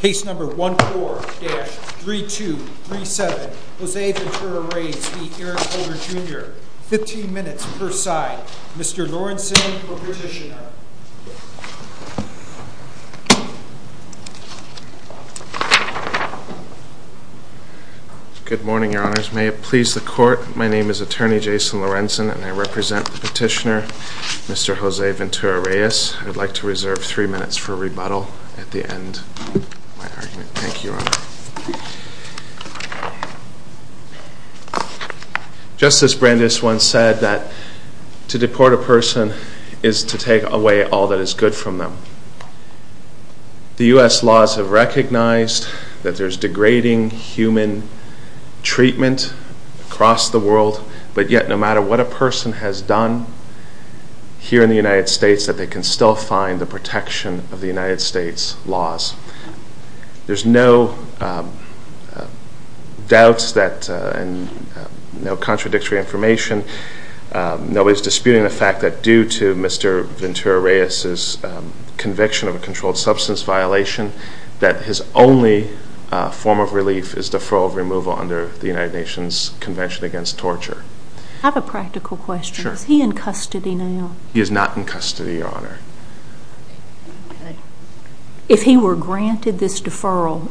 Case number 14-3237. Jose Ventura Reyes v. Eric Holder Jr. Fifteen minutes per side. Mr. Lorenson, the petitioner. Good morning, your honors. May it please the court, my name is attorney Jason Lorenson and I represent the petitioner, Mr. Jose Ventura Reyes. I would like to reserve three minutes for rebuttal at the end of my argument. Thank you, your honor. Justice Brandeis once said that to deport a person is to take away all that is good from them. The U.S. laws have recognized that there's degrading human treatment across the world, but yet no matter what a person has done here in the United States that they can still find the protection of the United States laws. There's no doubts that, no contradictory information, nobody's disputing the fact that due to Mr. Ventura Reyes' conviction of a controlled substance violation that his only form of relief is deferral of removal under the United Nations Convention Against Torture. I have a practical question. Is he in custody now? He is not in custody, your honor. If he were granted this deferral,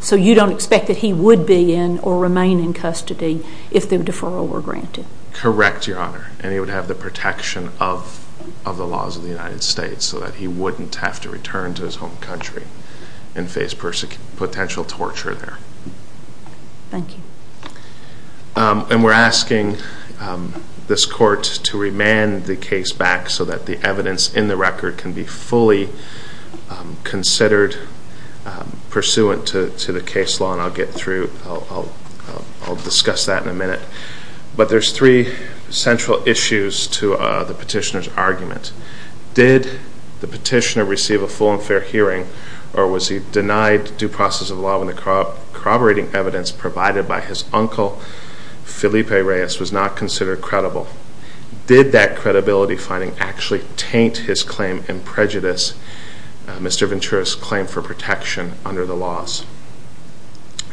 so you don't expect that he would be in or remain in custody if the deferral were granted? Correct, your honor. And he would have the protection of the laws of the United States so that he wouldn't have to return to his home country and face potential torture there. Thank you. And we're asking this court to remand the case back so that the evidence in the record can be fully considered pursuant to the case law and I'll get through, I'll discuss that in a minute. But there's three central issues to the petitioner's argument. Did the petitioner receive a full and fair hearing or was he denied due process of law when the corroborating evidence provided by his uncle, Felipe Reyes, was not considered credible? Did that credibility finding actually taint his claim in prejudice, Mr. Ventura's claim for protection under the laws?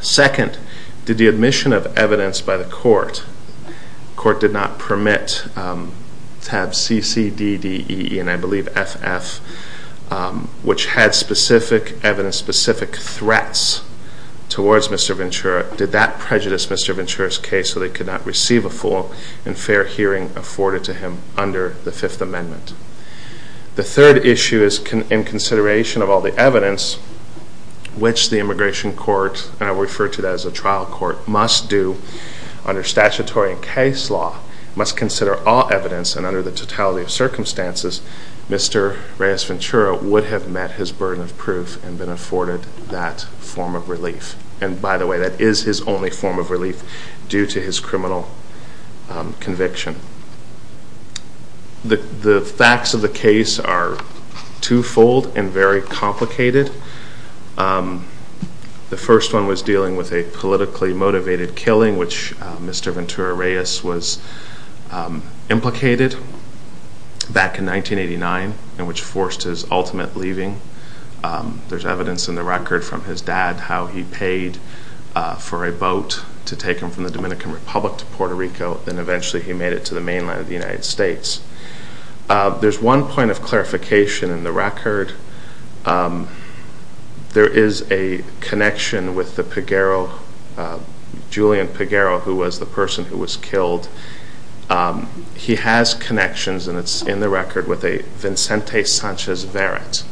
Second, did the admission of evidence by the court, the court did not permit to have CCDDEE and I believe FF, which had specific evidence, specific threats towards Mr. Ventura, did that prejudice Mr. Ventura's case so they could not receive a full and fair hearing afforded to him under the Fifth Amendment? The third issue is in consideration of all the evidence which the immigration court, and I refer to that as a trial court, must do under statutory and case law, must consider all evidence and under the totality of circumstances, Mr. Reyes Ventura would have met his burden of proof and been afforded that form of relief. And by the way, that is his only form of relief due to his criminal conviction. The facts of the case are two-fold and very complicated. The first one was dealing with a politically motivated killing which Mr. Ventura Reyes was implicated back in 1989 and which forced his ultimate leaving. There's evidence in the record from his dad how he paid for a boat to take him from the Dominican Republic to Puerto Rico and eventually he made it to the mainland of the United States. There's one point of clarification in the record. There is a connection with the Pagaro, Julian Pagaro, who was the person who was killed. He has connections, and it's in the record, with a Vincente Sanchez Barrett.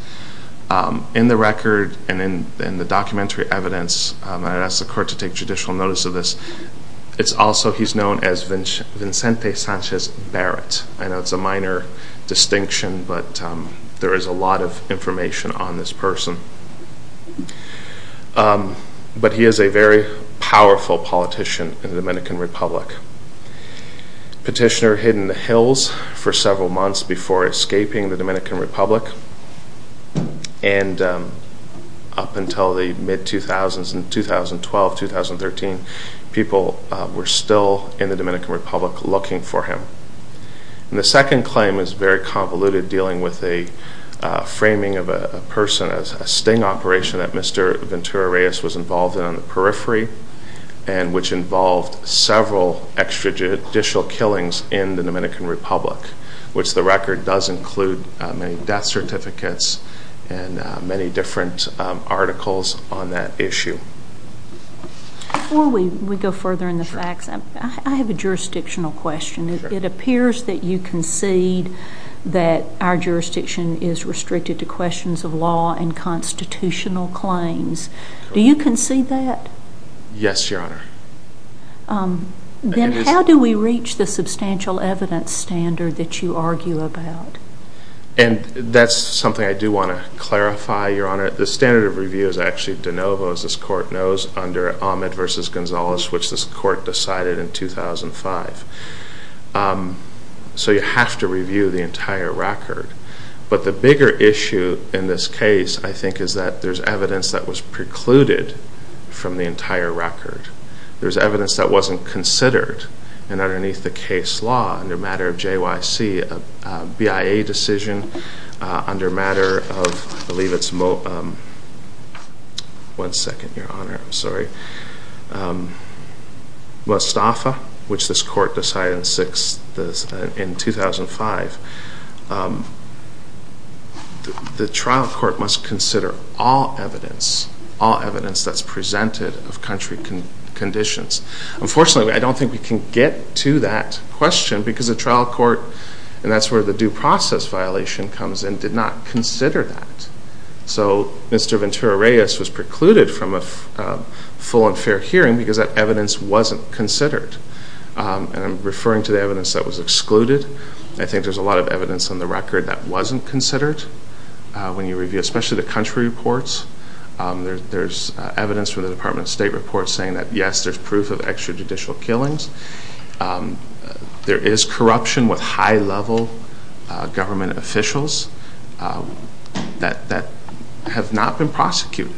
In the record and in the documentary evidence, and I'd ask the court to take judicial notice of this, it's also he's known as Vincente Sanchez Barrett. I know it's a minor distinction, but there is a lot of information on this person. But he is a very powerful politician in the Dominican Republic. Petitioner hid in the hills for several months before escaping the Dominican Republic. And up until the mid-2000s, 2012, 2013, people were still in the Dominican Republic looking for him. And the second claim is very convoluted, dealing with a framing of a person, a sting operation that Mr. Ventura Reyes was involved in on the periphery, and which involved several extrajudicial killings in the Dominican Republic, which the record does include many death certificates and many different articles on that issue. Before we go further in the facts, I have a jurisdictional question. It appears that you concede that our jurisdiction is restricted to questions of law and constitutional claims. Do you concede that? Yes, Your Honor. Then how do we reach the substantial evidence standard that you argue about? And that's something I do want to clarify, Your Honor. The standard of review is actually de novo, as this Court knows, under Ahmed v. Gonzalez, which this Court decided in 2005. So you have to review the entire record. But the bigger issue in this case, I think, is that there's evidence that was precluded from the entire record. There's evidence that wasn't considered, and underneath the case law, under a matter of JYC, a BIA decision under a matter of, I believe it's Mo, one second, Your Honor, I'm sorry, Mostafa, which this Court decided in 2005, the trial court must consider all evidence, all evidence that's presented of country conditions. Unfortunately, I don't think we can get to that question because the trial court, and that's where the due process violation comes in, did not consider that. So Mr. Ventura-Reyes was precluded from a full and fair hearing because that evidence wasn't considered. And I'm referring to the evidence that was excluded. I think there's a lot of evidence on the record that wasn't considered when you review, especially the country reports. There's evidence from the Department of State report saying that, yes, there's proof of extrajudicial killings. There is corruption with high-level government officials that have not been prosecuted.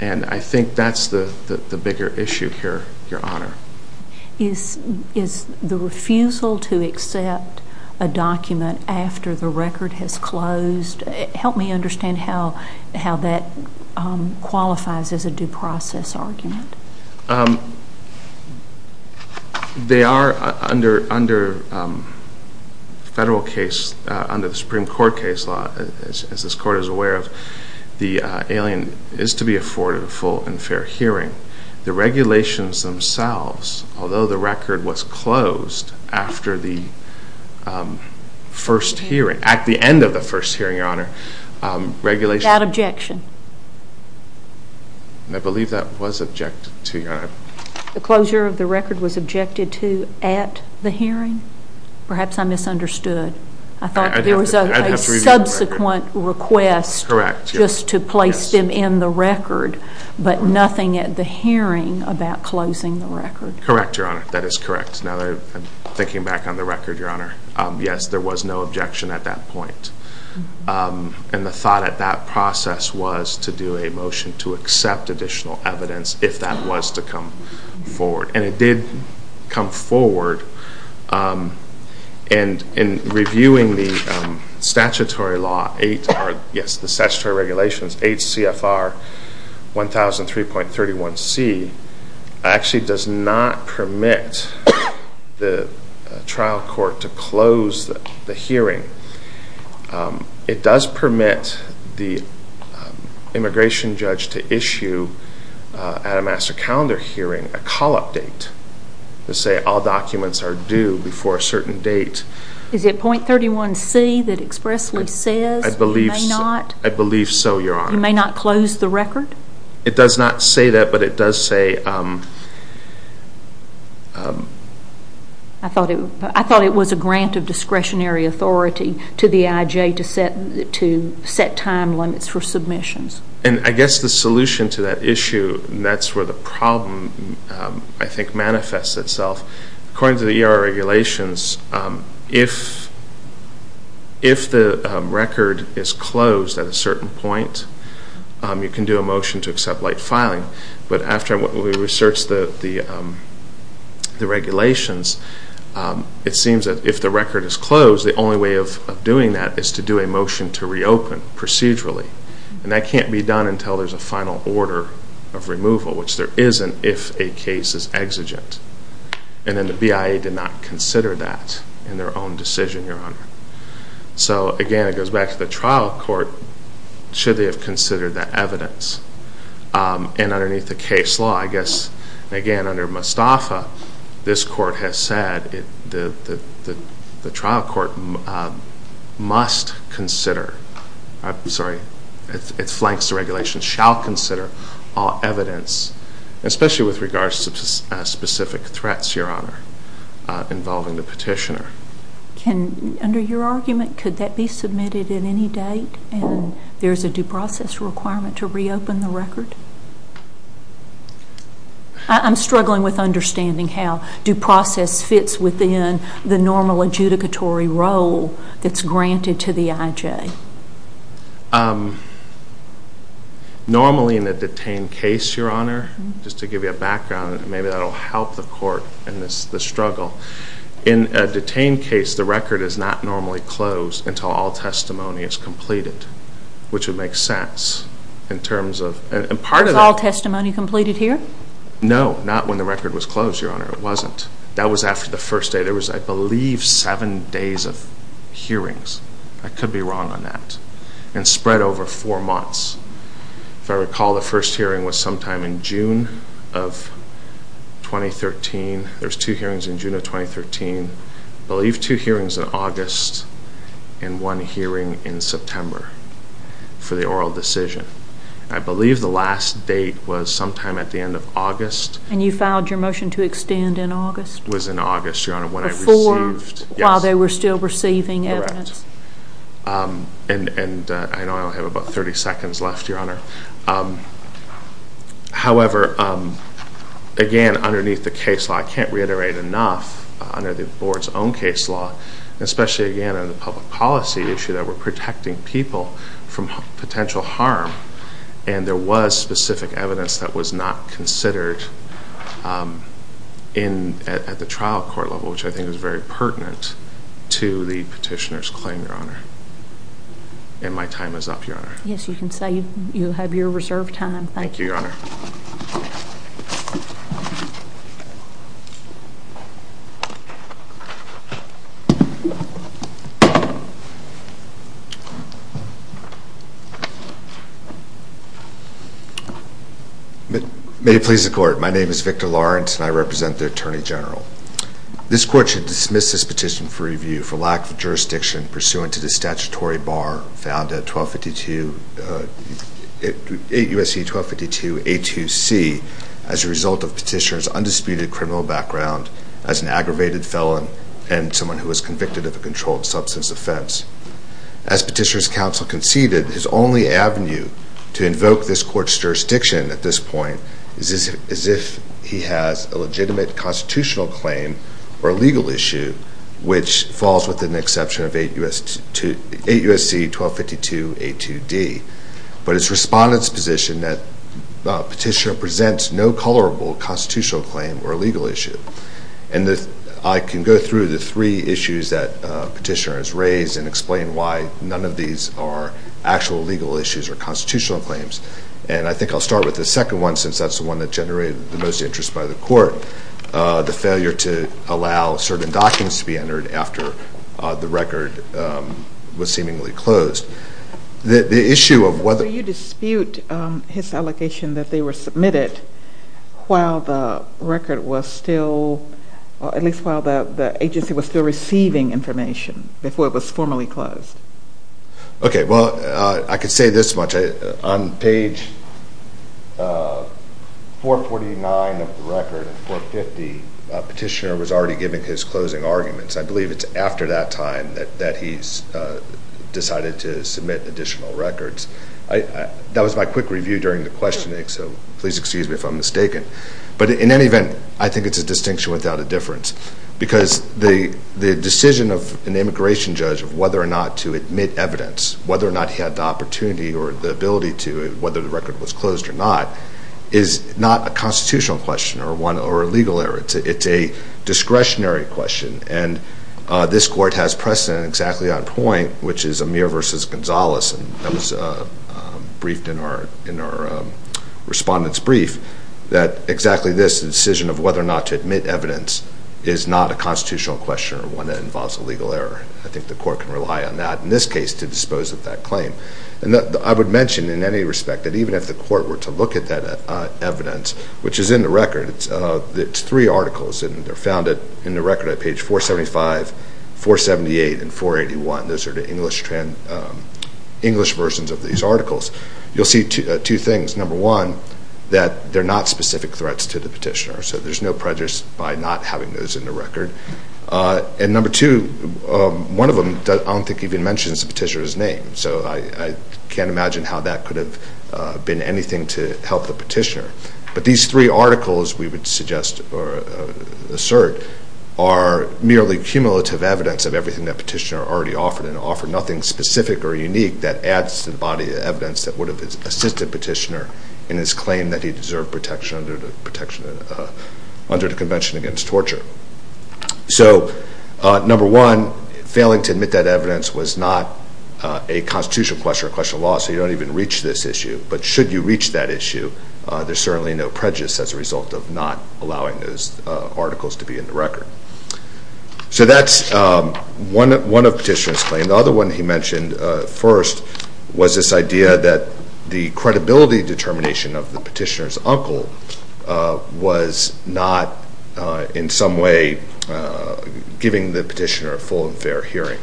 And I think that's the bigger issue here, Your Honor. Is the refusal to accept a document after the record has closed, help me understand how that qualifies as a due process argument. They are, under federal case, under the Supreme Court case law, as this Court is aware of, the alien is to be afforded a full and fair hearing. The regulations themselves, although the record was closed after the first hearing, at the end of the first hearing, Your Honor, regulations... Without objection. I believe that was objected to, Your Honor. The closure of the record was objected to at the hearing? Perhaps I misunderstood. I thought there was a subsequent request just to place them in the record, but nothing at the hearing about closing the record. Correct, Your Honor. That is correct. Now, thinking back on the record, Your Honor, yes, there was no objection at that point. And the thought at that process was to do a motion to accept additional evidence, if that was to come forward. And it did come forward. And in reviewing the statutory law, yes, the statutory regulations, H.C.F.R. 1003.31c actually does not permit the trial court to close the hearing. It does permit the immigration judge to issue, at a master calendar hearing, a call-up date to say all documents are due before a certain date. Is it .31c that expressly says you may not? I believe so, Your Honor. You may not close the record? It does not say that, but it does say... I thought it was a grant of discretionary authority to the IJ to set time limits for submissions. And I guess the solution to that issue, that's where the problem, I think, manifests itself. According to the ER regulations, if the record is closed at a certain point, you can do a motion to accept light filing. But after we researched the regulations, it seems that if the record is closed, the only way of doing that is to do a motion to reopen procedurally. And that can't be done until there's a final order of removal, which there isn't if a case is exigent. And then the BIA did not consider that in their own decision, Your Honor. So, again, it goes back to the trial court. Should they have considered that evidence? And underneath the case law, I guess, again, under Mustafa, this court has said that the trial court must consider, I'm sorry, it flanks the regulations, shall consider all evidence, especially with regards to specific threats, Your Honor, involving the petitioner. Under your argument, could that be submitted at any date and there's a due process requirement to reopen the record? I'm struggling with understanding how due process fits within the normal adjudicatory role that's granted to the IJ. Normally in a detained case, Your Honor, just to give you a background, maybe that will help the court in this struggle. In a detained case, the record is not normally closed until all testimony is completed, which would make sense in terms of, and part of the... Was all testimony completed here? No, not when the record was closed, Your Honor. It wasn't. That was after the first day. There was, I believe, seven days of hearings. I could be wrong on that. And spread over four months. If I recall, the first hearing was sometime in June of 2013. There was two hearings in June of 2013. I believe two hearings in August and one hearing in September for the oral decision. I believe the last date was sometime at the end of August. And you filed your motion to extend in August? It was in August, Your Honor, when I received... Before? Yes. While they were still receiving evidence? And I know I only have about 30 seconds left, Your Honor. However, again, underneath the case law, I can't reiterate enough, under the Board's own case law, especially, again, in the public policy issue, that we're protecting people from potential harm. And there was specific evidence that was not considered at the trial court level, which I think is very pertinent to the petitioner's claim, Your Honor. And my time is up, Your Honor. Yes, you can say you have your reserved time. Thank you, Your Honor. May it please the Court. My name is Victor Lawrence, and I represent the Attorney General. This Court should dismiss this petition for review for lack of jurisdiction pursuant to the statutory bar found at USC 1252A2C as a result of petitioner's undisputed criminal background as an aggravated felon and someone who was convicted of a controlled substance offense. As Petitioner's Counsel conceded, his only avenue to invoke this Court's jurisdiction at this point is if he has a legitimate constitutional claim or a legal issue, which falls within the exception of 8 U.S.C. 1252A2D. But it's Respondent's position that Petitioner presents no colorable constitutional claim or legal issue. And I can go through the three issues that Petitioner has raised and explain why none of these are actual legal issues or constitutional claims. And I think I'll start with the second one, the failure to allow certain documents to be entered after the record was seemingly closed. The issue of whether... So you dispute his allegation that they were submitted while the record was still, at least while the agency was still receiving information before it was formally closed. Okay, well, I could say this much. On page 449 of the record and 450, Petitioner was already giving his closing arguments. I believe it's after that time that he's decided to submit additional records. That was my quick review during the questioning, so please excuse me if I'm mistaken. But in any event, I think it's a distinction without a difference because the decision of an immigration judge of whether or not to admit evidence, whether or not he had the opportunity or the ability to, whether the record was closed or not, is not a constitutional question or a legal error. It's a discretionary question. And this Court has precedent exactly on point, which is Amir v. Gonzales, and that was briefed in our Respondent's Brief, that exactly this decision of whether or not to admit evidence is not a constitutional question or one that involves a legal error. I think the Court can rely on that in this case to dispose of that claim. And I would mention in any respect that even if the Court were to look at that evidence, which is in the record, it's three articles, and they're found in the record at page 475, 478, and 481. Those are the English versions of these articles. You'll see two things. Number one, that they're not specific threats to the Petitioner, so there's no prejudice by not having those in the record. And number two, one of them I don't think even mentions the Petitioner's name, so I can't imagine how that could have been anything to help the Petitioner. But these three articles we would suggest or assert are merely cumulative evidence of everything that Petitioner already offered, and offered nothing specific or unique that adds to the body of evidence that would have assisted Petitioner in his claim that he deserved protection under the Convention Against Torture. So number one, failing to admit that evidence was not a constitutional question or a question of law, so you don't even reach this issue. But should you reach that issue, there's certainly no prejudice as a result of not allowing those articles to be in the record. So that's one of Petitioner's claims. The other one he mentioned first was this idea that the credibility determination of the Petitioner's uncle was not in some way giving the Petitioner a full and fair hearing.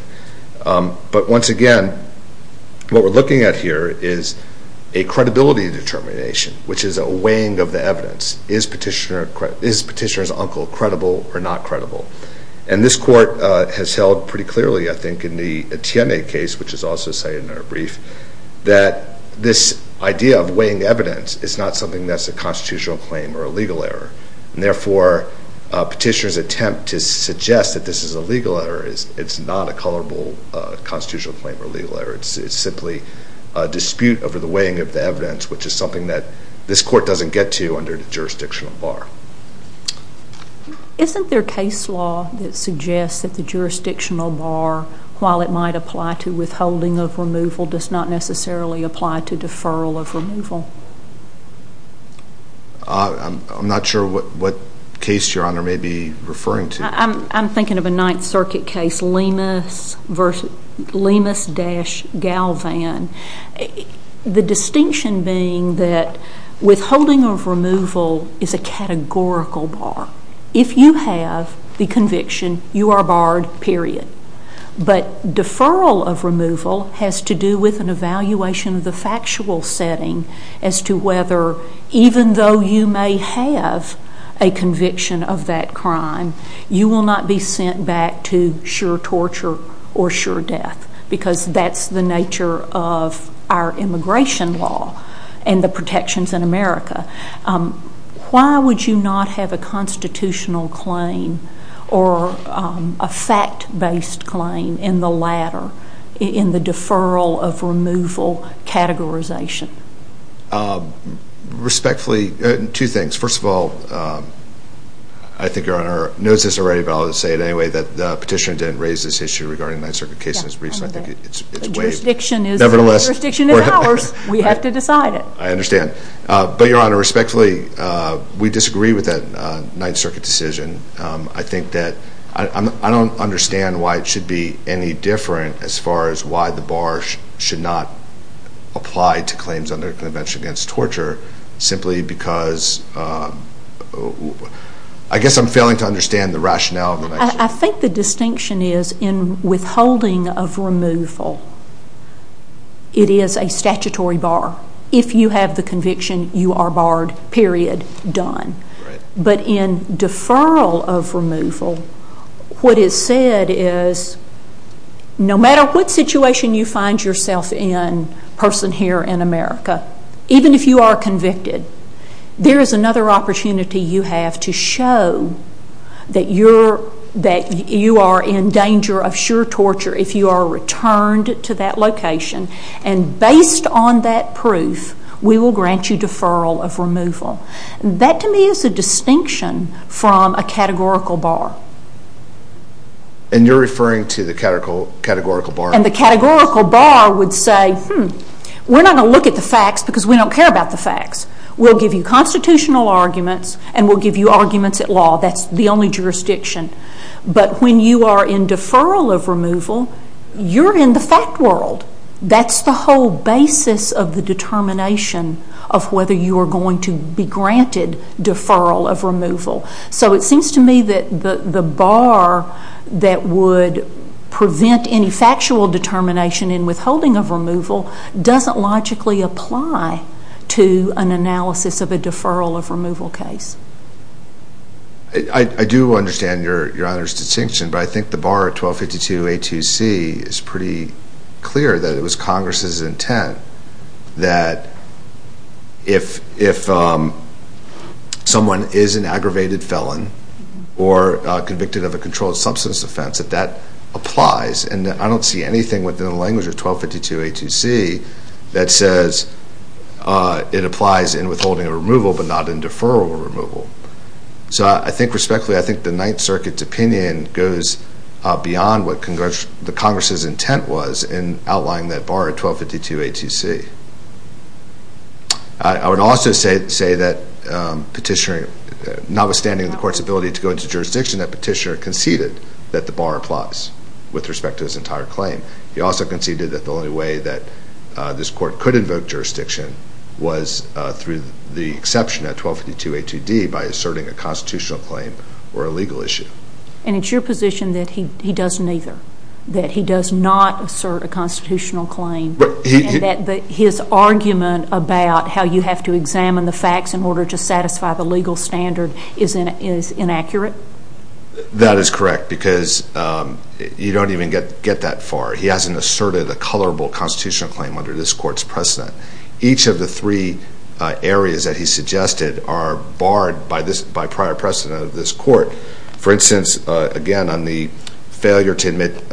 But once again, what we're looking at here is a credibility determination, which is a weighing of the evidence. Is Petitioner's uncle credible or not credible? And this Court has held pretty clearly, I think, in the Etienne case, which is also cited in our brief, that this idea of weighing evidence is not something that's a constitutional claim or a legal error. Therefore, Petitioner's attempt to suggest that this is a legal error is not a colorable constitutional claim or legal error. It's simply a dispute over the weighing of the evidence, which is something that this Court doesn't get to under the jurisdictional bar. Isn't there case law that suggests that the jurisdictional bar, while it might apply to withholding of removal, does not necessarily apply to deferral of removal? I'm not sure what case Your Honor may be referring to. I'm thinking of a Ninth Circuit case, Lemus v. Lemus-Galvan. The distinction being that withholding of removal is a categorical bar. If you have the conviction, you are barred, period. But deferral of removal has to do with an evaluation of the factual setting as to whether, even though you may have a conviction of that crime, you will not be sent back to sure torture or sure death, because that's the nature of our immigration law and the protections in America. Why would you not have a constitutional claim or a fact-based claim in the latter, in the deferral of removal categorization? Respectfully, two things. First of all, I think Your Honor knows this already, but I'll just say it anyway, that the petitioner didn't raise this issue regarding the Ninth Circuit case in his brief, so I think it's waived. The jurisdiction is ours. We have to decide it. I understand. But Your Honor, respectfully, we disagree with that Ninth Circuit decision. I think that I don't understand why it should be any different as far as why the bar should not apply to claims under Convention Against Torture simply because I guess I'm failing to understand the rationale of the Ninth Circuit. I think the distinction is in withholding of removal, it is a statutory bar. If you have the conviction, you are barred, period, done. But in deferral of removal, what is said is no matter what situation you find yourself in, person here in America, even if you are convicted, there is another opportunity you have to show that you are in danger of sure torture if you are returned to that location. And based on that proof, we will grant you deferral of removal. That to me is a distinction from a categorical bar. And you're referring to the categorical bar? And the categorical bar would say, hmm, we're not going to look at the facts because we don't care about the facts. We'll give you constitutional arguments and we'll give you arguments at law. That's the only jurisdiction. But when you are in deferral of removal, you're in the fact world. That's the whole basis of the determination of whether you are going to be granted deferral of removal. So it seems to me that the bar that would prevent any factual determination in withholding of removal doesn't logically apply to an analysis of a deferral of removal case. I do understand Your Honor's distinction, but I think the bar at 1252A2C is pretty clear that it was Congress's intent that if someone is an aggravated felon or convicted of a controlled substance offense, that that applies. And I don't see anything within the language of 1252A2C that says it applies in withholding of removal but not in deferral of removal. So I think respectfully, I think the Ninth Circuit's opinion goes beyond what the Congress's intent was in outlining that bar at 1252A2C. I would also say that notwithstanding the Court's ability to go into jurisdiction, that Petitioner conceded that the bar applies with respect to this entire claim. He also conceded that the only way that this Court could invoke jurisdiction was through the exception at 1252A2D by asserting a constitutional claim or a legal issue. And it's your position that he doesn't either, that he does not assert a constitutional claim, and that his argument about how you have to examine the facts in order to satisfy the legal standard is inaccurate? That is correct because you don't even get that far. He hasn't asserted a colorable constitutional claim under this Court's precedent. Each of the three areas that he suggested are barred by prior precedent of this Court. For instance, again, on the failure to admit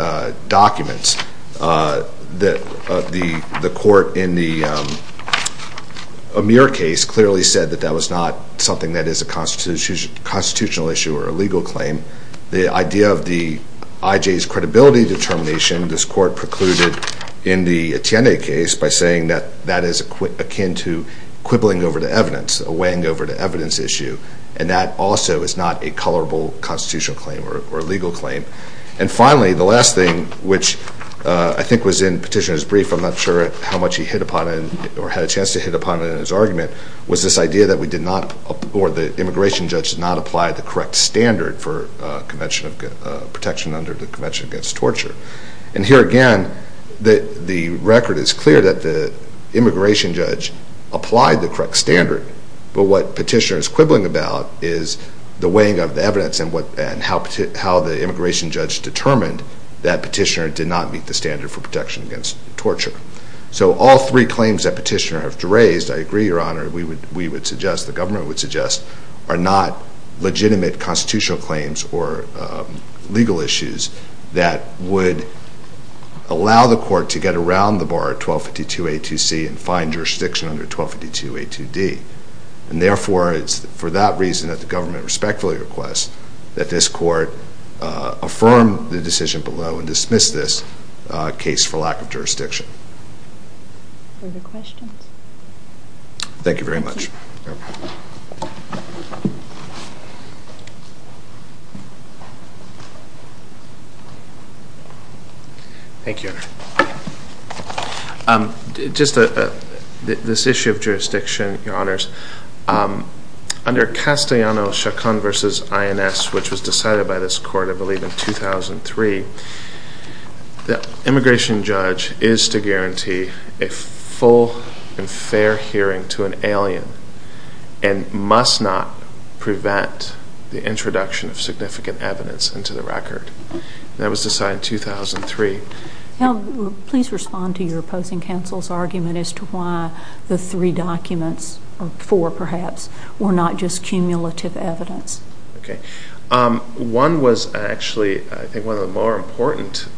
documents, the Court in the Amir case clearly said that that was not something that is a constitutional issue or a legal claim. The idea of the IJ's credibility determination, this Court precluded in the Etienne case by saying that that is akin to quibbling over the evidence, weighing over the evidence issue, and that also is not a colorable constitutional claim or a legal claim. And finally, the last thing, which I think was in Petitioner's brief, I'm not sure how much he hit upon it or had a chance to hit upon it in his argument, was this idea that the immigration judge did not apply the correct standard for protection under the Convention Against Torture. And here again, the record is clear that the immigration judge applied the correct standard, but what Petitioner is quibbling about is the weighing of the evidence and how the immigration judge determined that Petitioner did not meet the standard for protection against torture. So all three claims that Petitioner has raised, I agree, Your Honor, we would suggest, the government would suggest, are not legitimate constitutional claims or legal issues that would allow the Court to get around the bar 1252A2C and find jurisdiction under 1252A2D. And therefore, it's for that reason that the government respectfully requests that this Court affirm the decision below and dismiss this case for lack of jurisdiction. Further questions? Thank you very much. Thank you, Your Honor. Just this issue of jurisdiction, Your Honors, under Castellano-Chacon v. INS, which was decided by this Court, I believe, in 2003, the immigration judge is to guarantee a full and fair hearing to an alien and must not prevent the introduction of significant evidence into the record. That was decided in 2003. Please respond to your opposing counsel's argument as to why the three documents or four, perhaps, were not just cumulative evidence. Okay. One was actually, I think, one of the more important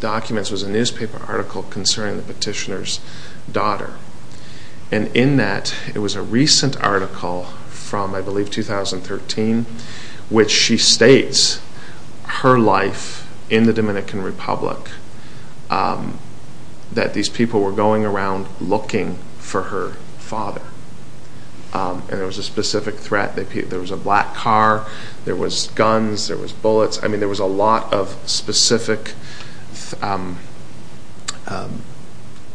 documents was a newspaper article concerning the Petitioner's daughter. And in that, it was a recent article from, I believe, 2013, which she states her life in the Dominican Republic, that these people were going around looking for her father. And there was a specific threat. There was a black car. There was guns. There was bullets. I mean, there was a lot of specific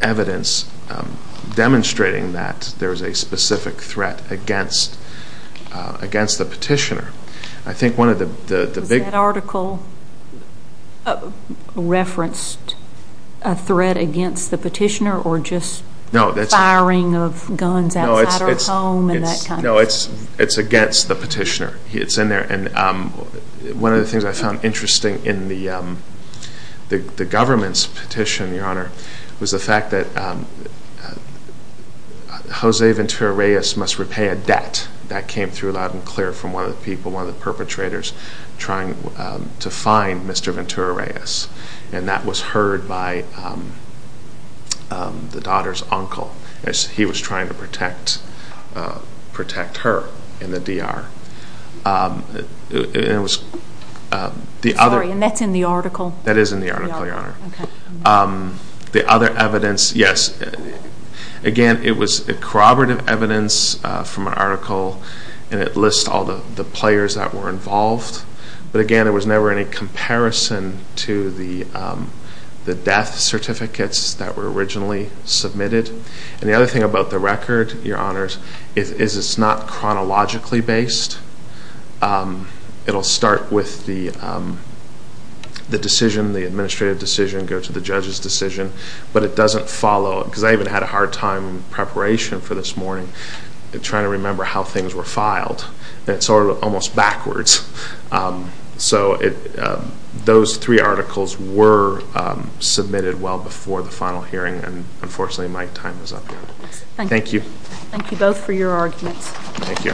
evidence demonstrating that there was a specific threat against the Petitioner. Was that article referenced a threat against the Petitioner or just firing of guns outside her home and that kind of thing? No, it's against the Petitioner. It's in there. And one of the things I found interesting in the government's petition, Your Honor, was the fact that Jose Ventura Reyes must repay a debt. That came through loud and clear from one of the people, one of the perpetrators, trying to find Mr. Ventura Reyes. And that was heard by the daughter's uncle as he was trying to protect her in the DR. Sorry, and that's in the article? That is in the article, Your Honor. The other evidence, yes. Again, it was corroborative evidence from an article and it lists all the players that were involved. But again, there was never any comparison to the death certificates that were originally submitted. And the other thing about the record, Your Honors, is it's not chronologically based. It will start with the decision, the administrative decision, go to the judge's decision, but it doesn't follow it. Because I even had a hard time in preparation for this morning trying to remember how things were filed. And it's sort of almost backwards. So those three articles were submitted well before the final hearing, and unfortunately my time is up here. Thank you. Thank you both for your arguments. Thank you.